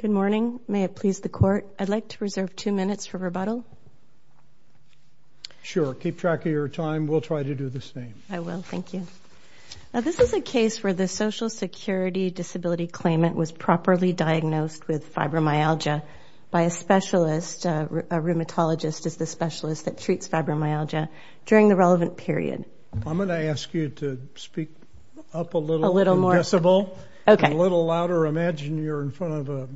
Good morning, may it please the court, I'd like to reserve two minutes for rebuttal. Sure, keep track of your time, we'll try to do the same. I will, thank you. Now this is a case where the Social Security disability claimant was properly diagnosed with fibromyalgia by a specialist, a rheumatologist is the specialist that treats fibromyalgia during the relevant period. I'm going to yell a little louder, imagine you're in front of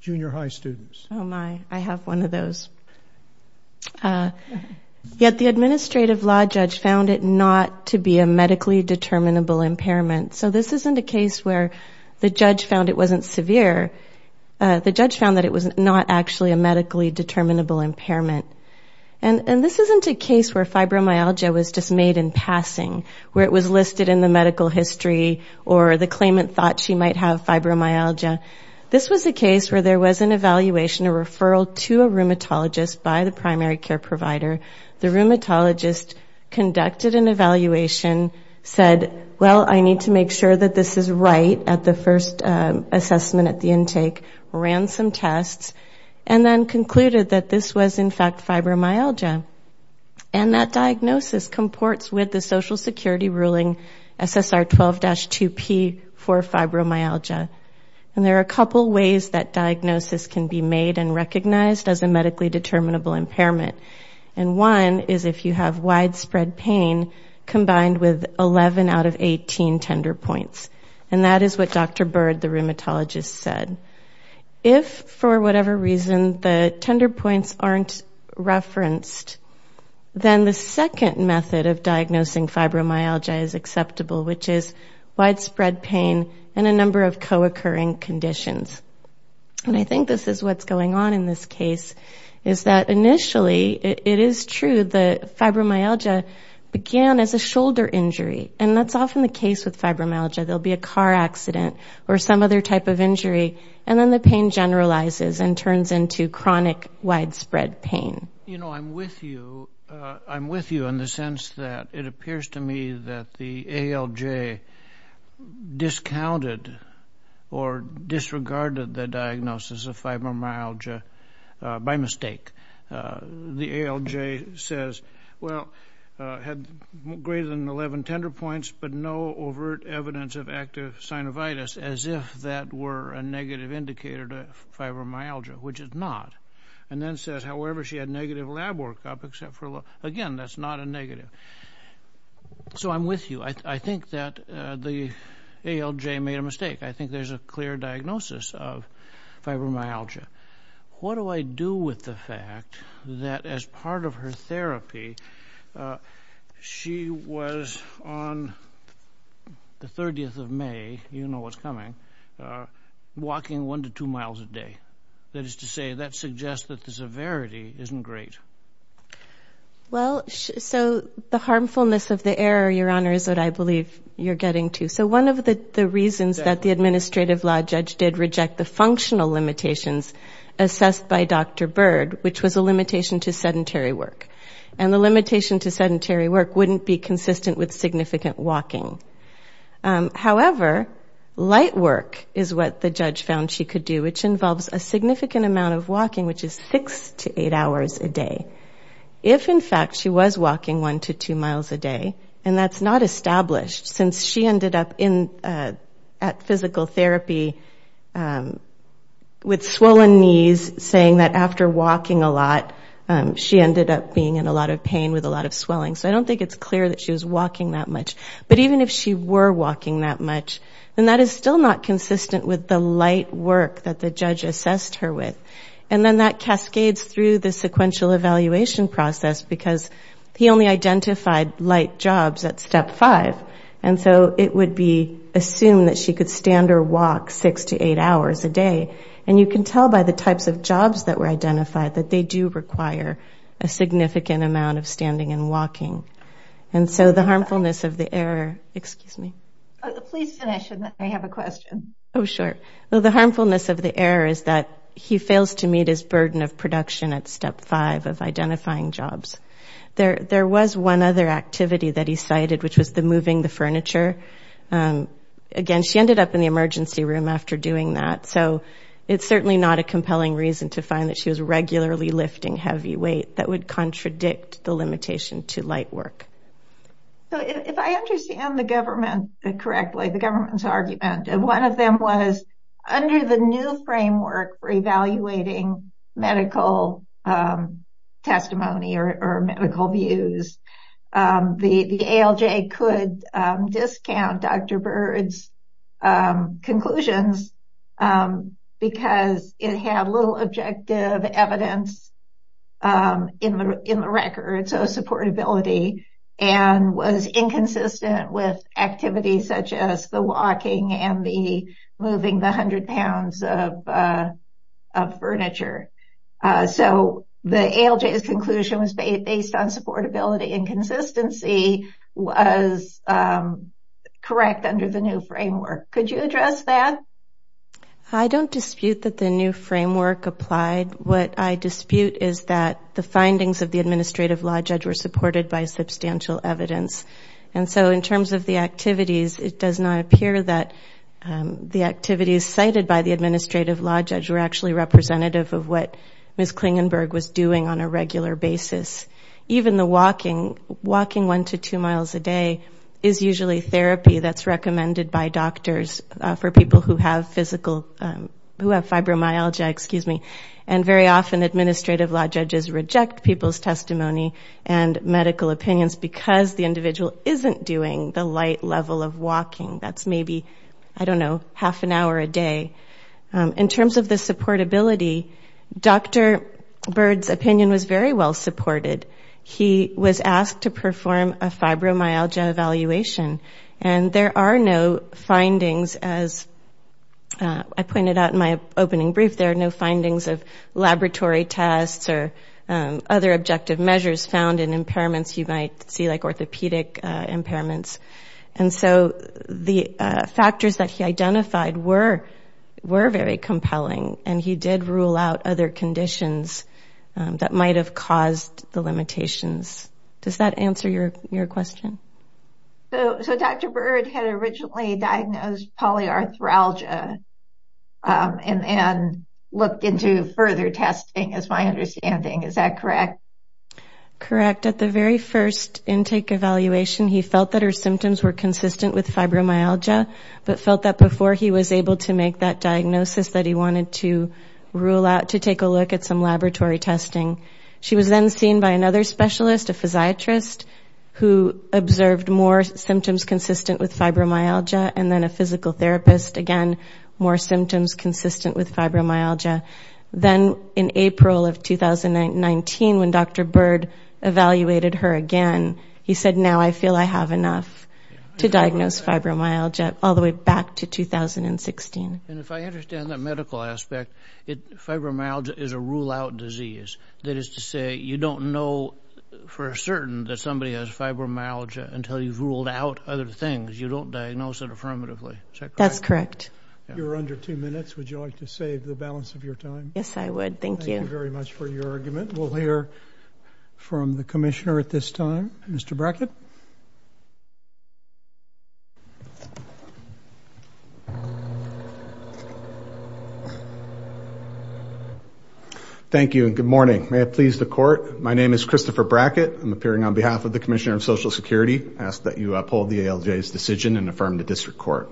junior high students. Oh my, I have one of those. Yet the administrative law judge found it not to be a medically determinable impairment. So this isn't a case where the judge found it wasn't severe, the judge found that it was not actually a medically determinable impairment. And this isn't a case where fibromyalgia was just made in passing, where it was listed in the medical history or the claimant thought she might have fibromyalgia. This was a case where there was an evaluation, a referral to a rheumatologist by the primary care provider. The rheumatologist conducted an evaluation, said well I need to make sure that this is right at the first assessment at the intake, ran some tests, and then concluded that this was in fact fibromyalgia. And that diagnosis comports with the Social Security ruling SSR 12-2P for fibromyalgia. And there are a couple ways that diagnosis can be made and recognized as a medically determinable impairment. And one is if you have widespread pain combined with 11 out of 18 tender points. And that is what Dr. Bird, the rheumatologist, said. If for whatever reason the tender points aren't referenced, then the second method of diagnosing fibromyalgia is acceptable, which is widespread pain and a number of co-occurring conditions. And I think this is what's going on in this case, is that initially it is true that fibromyalgia began as a shoulder injury. And that's often the case with fibromyalgia. There'll be a car accident or some other type of injury, and then the pain generalizes and turns into chronic widespread pain. You know, I'm with you. I'm with you in the sense that it appears to me that the ALJ discounted or disregarded the diagnosis of fibromyalgia by mistake. The ALJ says, well, had greater than 11 tender points, but no overt evidence of negative indicator to fibromyalgia, which it's not. And then says, however, she had negative lab workup except for a little. Again, that's not a negative. So I'm with you. I think that the ALJ made a mistake. I think there's a clear diagnosis of fibromyalgia. What do I do with the fact that as part of her therapy, she was on the 30th of May, you know what's coming, walking one to two miles a day? That is to say, that suggests that the severity isn't great. Well, so the harmfulness of the error, Your Honor, is what I believe you're getting to. So one of the reasons that the administrative law judge did reject the functional limitations assessed by Dr. Bird, which was a limitation to sedentary work. And the However, light work is what the judge found she could do, which involves a significant amount of walking, which is six to eight hours a day. If, in fact, she was walking one to two miles a day, and that's not established since she ended up at physical therapy with swollen knees, saying that after walking a lot, she ended up being in a lot of pain with a lot of swelling. So I don't think it's clear that she was walking that much. But even if she were walking that much, then that is still not consistent with the light work that the judge assessed her with. And then that cascades through the sequential evaluation process, because he only identified light jobs at step five. And so it would be assumed that she could stand or walk six to eight hours a day. And you can tell by the types of jobs that were identified that they do require a significant amount of And so the harmfulness of the error, excuse me. Please finish and then I have a question. Oh, sure. Well, the harmfulness of the error is that he fails to meet his burden of production at step five of identifying jobs. There was one other activity that he cited, which was the moving the furniture. Again, she ended up in the emergency room after doing that. So it's certainly not a compelling reason to find that she was regularly lifting heavy weight that would contradict the So if I understand the government correctly, the government's argument and one of them was under the new framework for evaluating medical testimony or medical views, the ALJ could discount Dr. Byrd's conclusions, because it had little objective evidence in the record. So supportability and was inconsistent with activities such as the walking and the moving the hundred pounds of furniture. So the ALJ's conclusion was based on supportability and consistency was correct under the new framework. Could you address that? I don't dispute that the new framework applied. What I dispute is that the findings of the administrative law judge were supported by substantial evidence. And so in terms of the activities, it does not appear that the activities cited by the administrative law judge were actually representative of what Ms. Klingenberg was doing on a regular basis. Even the walking, walking one to two miles a day is usually therapy that's recommended by doctors for people who have physical, who have fibromyalgia, excuse me. And very often administrative law judges reject people's testimony and medical opinions because the individual isn't doing the light level of walking. That's maybe, I don't know, half an hour a day. In terms of the supportability, Dr. Byrd's opinion was very well supported. He was asked to perform a fibromyalgia evaluation. And there are no findings, as I pointed out in my opening brief, there are no findings of laboratory tests or other objective measures found in impairments you might see like orthopedic impairments. And so the factors that he identified were, were very compelling. And he did rule out other conditions that might have caused the limitations. Does that answer your question? So Dr. Byrd had originally diagnosed polyarthralgia and looked into further testing is my understanding. Is that correct? Correct. At the very first intake evaluation, he felt that her symptoms were consistent with fibromyalgia, but felt that before he was able to make that rule out, to take a look at some laboratory testing. She was then seen by another specialist, a physiatrist, who observed more symptoms consistent with fibromyalgia and then a physical therapist, again, more symptoms consistent with fibromyalgia. Then in April of 2019, when Dr. Byrd evaluated her again, he said, now I feel I have enough to diagnose fibromyalgia all the way back to 2016. And if I understand that medical aspect, fibromyalgia is a rule out disease. That is to say, you don't know for certain that somebody has fibromyalgia until you've ruled out other things. You don't diagnose it affirmatively. Is that correct? That's correct. You're under two minutes. Would you like to save the balance of your time? Yes, I would. Thank you. Thank you very much for your argument. We'll hear from the commissioner at this time, Mr. Brackett. Thank you, and good morning. May it please the court. My name is Christopher Brackett. I'm appearing on behalf of the Commissioner of Social Security. I ask that you uphold the ALJ's decision and affirm the district court.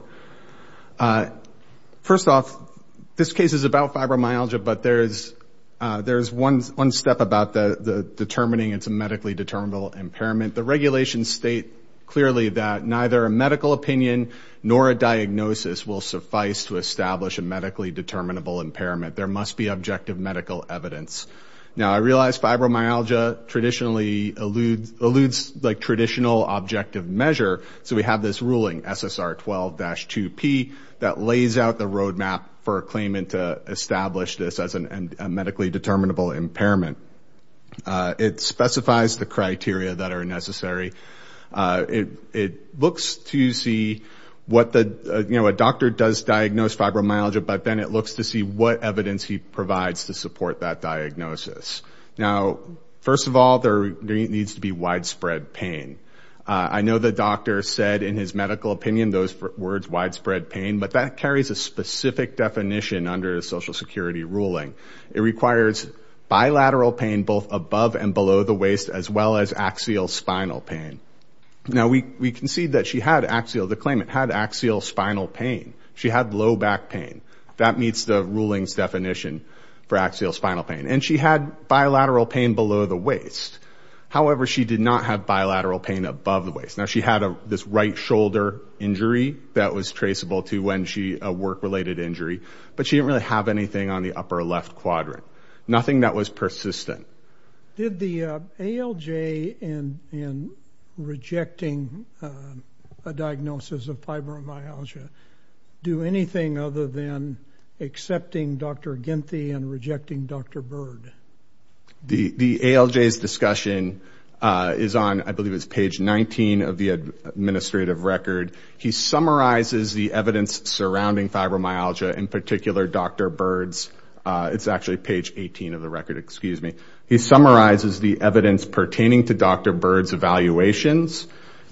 First off, this case is about fibromyalgia, but there is one step about determining it's a medically determinable impairment. The regulations state clearly that neither a medical opinion nor a diagnosis will suffice to establish a medically determinable impairment. There must be objective medical evidence. Now, I realize fibromyalgia traditionally eludes traditional objective measure, so we have this ruling, SSR 12-2P, that lays out the roadmap for a claimant to establish this as a medically determinable impairment. It specifies the criteria that are necessary. It looks to see what the – you know, a doctor does diagnose fibromyalgia, but then it looks to see what evidence he provides to support that diagnosis. Now, first of all, there needs to be widespread pain. I know the doctor said in his medical opinion those words, widespread pain, but that carries a specific definition under a Social Security ruling. It requires bilateral pain both above and below the waist, as well as axial spinal pain. Now, we concede that she had axial – the claimant had axial spinal pain. She had low back pain. That meets the ruling's definition for axial spinal pain. And she had bilateral pain below the waist. However, she did not have bilateral pain above the waist. Now, she had this right shoulder injury that was traceable to when she – Nothing that was persistent. Did the ALJ in rejecting a diagnosis of fibromyalgia do anything other than accepting Dr. Ginthy and rejecting Dr. Bird? The ALJ's discussion is on, I believe it's page 19 of the administrative record. He summarizes the evidence surrounding fibromyalgia, in particular Dr. Bird's. It's actually page 18 of the record. Excuse me. He summarizes the evidence pertaining to Dr. Bird's evaluations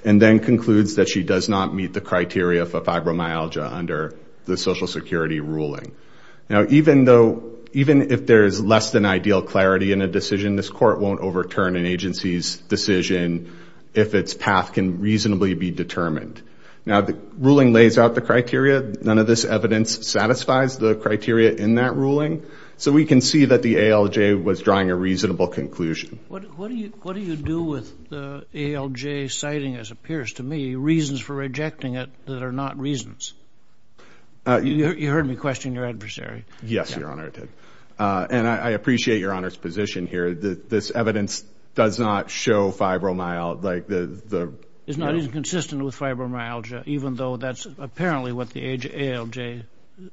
and then concludes that she does not meet the criteria for fibromyalgia under the Social Security ruling. Now, even though – even if there is less than ideal clarity in a decision, this court won't overturn an agency's decision if its path can reasonably be determined. Now, the ruling lays out the criteria. None of this evidence satisfies the criteria in that ruling. So we can see that the ALJ was drawing a reasonable conclusion. What do you do with the ALJ citing, as it appears to me, reasons for rejecting it that are not reasons? You heard me question your adversary. Yes, Your Honor, I did. And I appreciate Your Honor's position here. This evidence does not show fibromyalgia. It's not inconsistent with fibromyalgia, even though that's apparently what the ALJ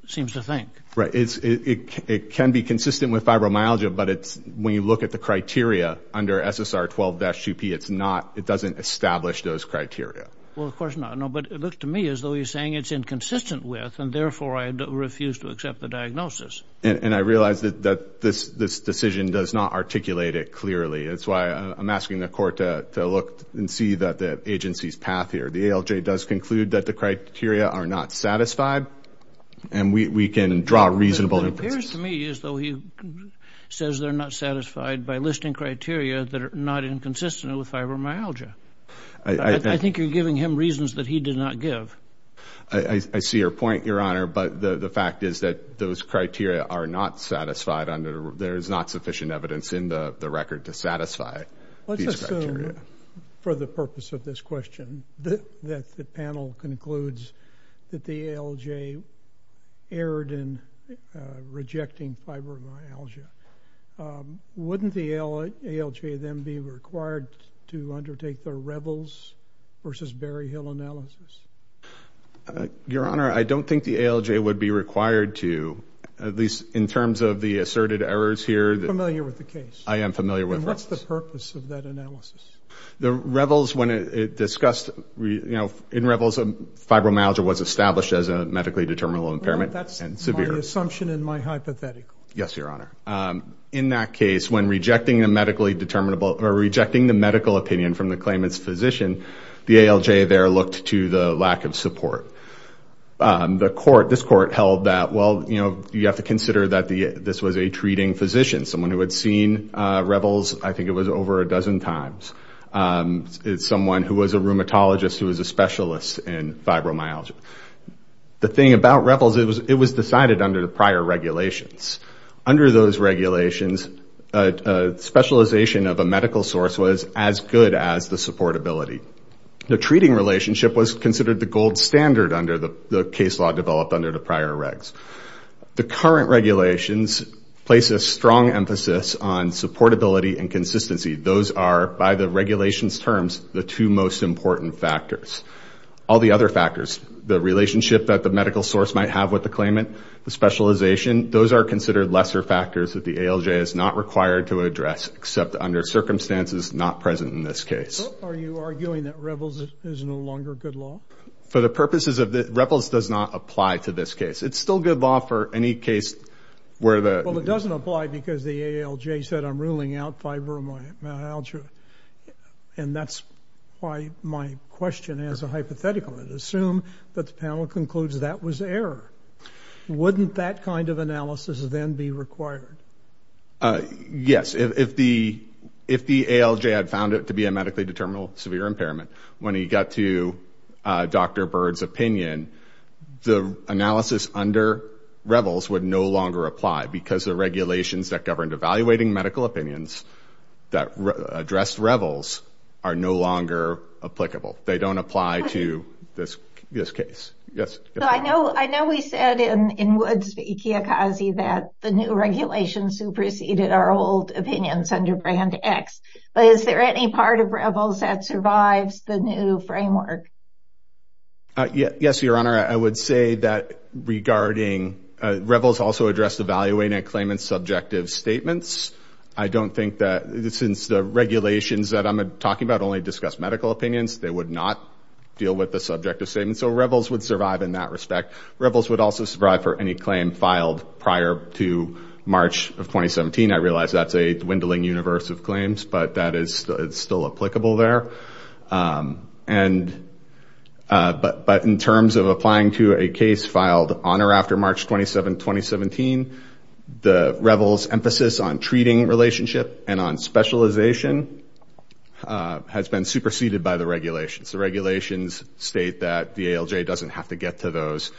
seems to think. Right. It can be consistent with fibromyalgia, but when you look at the criteria under SSR 12-2P, it doesn't establish those criteria. Well, of course not. No, but it looks to me as though you're saying it's inconsistent with, and therefore I refuse to accept the diagnosis. And I realize that this decision does not articulate it clearly. That's why I'm asking the Court to look and see the agency's path here. The ALJ does conclude that the criteria are not satisfied, and we can draw reasonable inferences. It appears to me as though he says they're not satisfied by listing criteria that are not inconsistent with fibromyalgia. I think you're giving him reasons that he did not give. I see your point, Your Honor, but the fact is that those criteria are not satisfied under there is not sufficient evidence in the record to satisfy these criteria. Let's assume, for the purpose of this question, that the panel concludes that the ALJ erred in rejecting fibromyalgia. Wouldn't the ALJ then be required to undertake the Rebels v. Berryhill analysis? Your Honor, I don't think the ALJ would be required to, at least in terms of the asserted errors here. You're familiar with the case? I am familiar with Rebels. And what's the purpose of that analysis? In Rebels, fibromyalgia was established as a medically determinable impairment and severe. That's my assumption and my hypothetical. Yes, Your Honor. In that case, when rejecting the medical opinion from the claimant's physician, the ALJ there looked to the lack of support. This court held that, well, you have to consider that this was a treating physician, someone who had seen Rebels I think it was over a dozen times. It's someone who was a rheumatologist who was a specialist in fibromyalgia. The thing about Rebels, it was decided under the prior regulations. Under those regulations, specialization of a medical source was as good as the supportability. The treating relationship was considered the gold standard under the case law developed under the prior regs. The current regulations place a strong emphasis on supportability and consistency. Those are, by the regulations' terms, the two most important factors. All the other factors, the relationship that the medical source might have with the claimant, the specialization, those are considered lesser factors that the ALJ is not required to address except under circumstances not present in this case. Are you arguing that Rebels is no longer good law? For the purposes of the ‑‑ Rebels does not apply to this case. It's still good law for any case where the ‑‑ Well, it doesn't apply because the ALJ said I'm ruling out fibromyalgia, and that's why my question has a hypothetical in it. Assume that the panel concludes that was error. Wouldn't that kind of analysis then be required? Yes. If the ALJ had found it to be a medically determinable severe impairment, when he got to Dr. Bird's opinion, the analysis under Rebels would no longer apply because the regulations that governed evaluating medical opinions that addressed Rebels are no longer applicable. They don't apply to this case. I know we said in Woods v. Ikeakazi that the new regulations superseded our old opinions under Brand X, but is there any part of Rebels that survives the new framework? Yes, Your Honor. I would say that regarding Rebels also addressed evaluating a claimant's subjective statements. I don't think that since the regulations that I'm talking about only discuss medical opinions, they would not deal with the subjective statements. So Rebels would survive in that respect. Rebels would also survive for any claim filed prior to March of 2017. I realize that's a dwindling universe of claims, but it's still applicable there. But in terms of applying to a case filed on or after March 27, 2017, the Rebels' emphasis on treating relationship and on specialization has been superseded by the regulations. The regulations state that the ALJ doesn't have to get to those.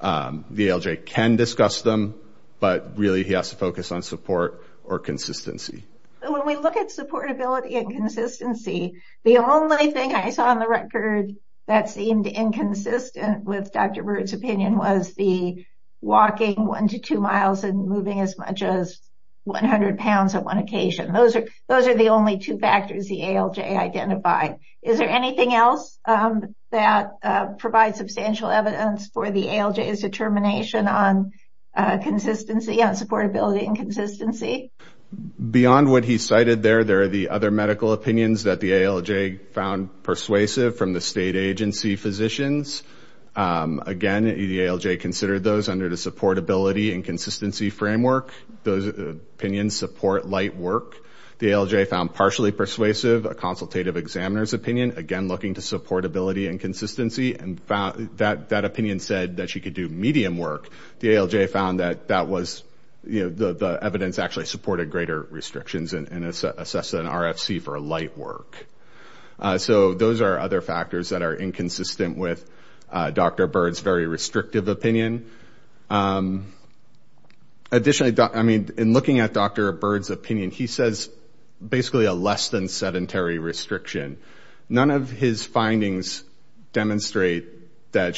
The ALJ can discuss them, but really he has to focus on support or consistency. When we look at supportability and consistency, the only thing I saw on the record that seemed inconsistent with Dr. Bird's opinion was the walking one to two miles and moving as much as 100 pounds on one occasion. Those are the only two factors the ALJ identified. Is there anything else that provides substantial evidence for the ALJ's determination on consistency, on supportability and consistency? Beyond what he cited there, there are the other medical opinions that the ALJ found persuasive from the state agency physicians. Again, the ALJ considered those under the supportability and consistency framework. Those opinions support light work. The ALJ found partially persuasive, a consultative examiner's opinion. Again, looking to supportability and consistency. That opinion said that she could do medium work. The ALJ found that the evidence actually supported greater restrictions and assessed an RFC for light work. Those are other factors that are inconsistent with Dr. Bird's very restrictive opinion. Additionally, in looking at Dr. Bird's opinion, he says basically a less than sedentary restriction. None of his findings demonstrate that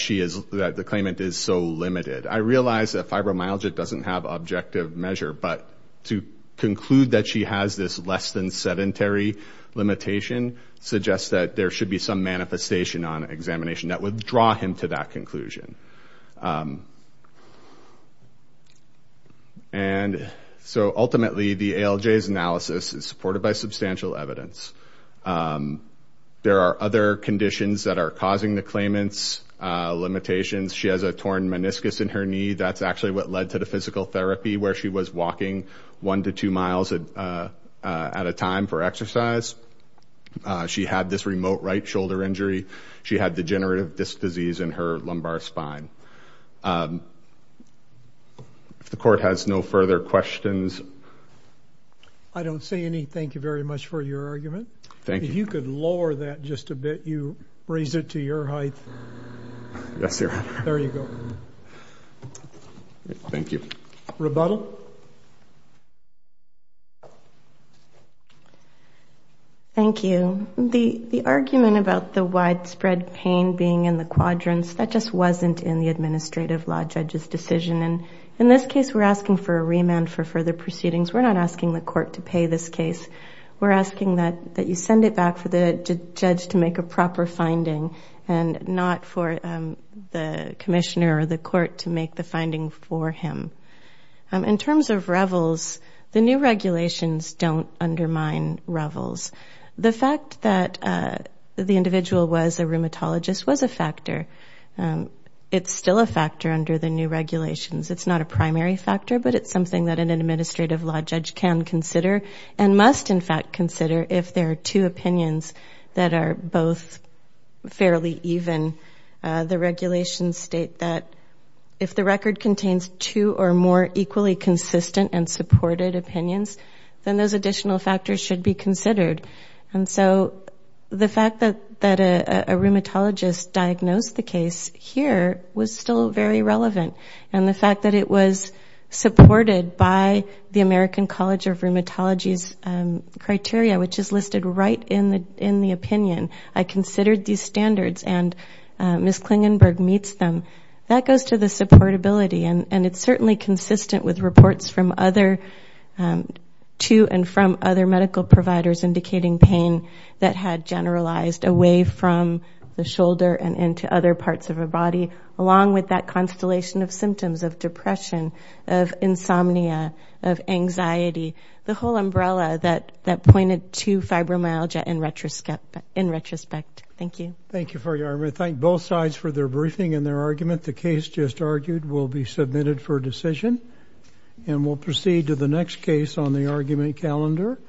the claimant is so limited. I realize that fibromyalgia doesn't have objective measure, but to conclude that she has this less than sedentary limitation suggests that there should be some manifestation on examination that would draw him to that conclusion. Ultimately, the ALJ's analysis is supported by substantial evidence. There are other conditions that are causing the claimant's limitations. She has a torn meniscus in her knee. That's actually what led to the physical therapy where she was walking one to two miles at a time for exercise. She had this remote right shoulder injury. She had degenerative disc disease in her lumbar spine. If the court has no further questions. I don't see anything. Thank you very much for your argument. Thank you. If you could lower that just a bit. You raised it to your height. Yes, sir. There you go. Thank you. Rebuttal. Thank you. The argument about the widespread pain being in the quadrants, that just wasn't in the administrative law judge's decision. In this case, we're asking for a remand for further proceedings. We're not asking the court to pay this case. We're asking that you send it back for the judge to make a proper finding, and not for the commissioner or the court to make the finding for him. In terms of REVLs, the new regulations don't undermine REVLs. The fact that the individual was a rheumatologist was a factor. It's still a factor under the new regulations. It's not a primary factor, but it's something that an administrative law judge can consider and must, in fact, consider if there are two opinions that are both fairly even. The regulations state that if the record contains two or more equally consistent and supported opinions, then those additional factors should be considered. And so the fact that a rheumatologist diagnosed the case here was still very relevant. And the fact that it was supported by the American College of Rheumatology's criteria, which is listed right in the opinion, I considered these standards and Ms. Klingenberg meets them, that goes to the supportability. And it's certainly consistent with reports to and from other medical providers indicating pain that had generalized away from the shoulder and into other parts of a body, along with that constellation of symptoms of depression, of insomnia, of anxiety, the whole umbrella that pointed to fibromyalgia in retrospect. Thank you. Thank you for your argument. Thank both sides for their briefing and their argument. The case just argued will be submitted for decision. And we'll proceed to the next case on the argument calendar.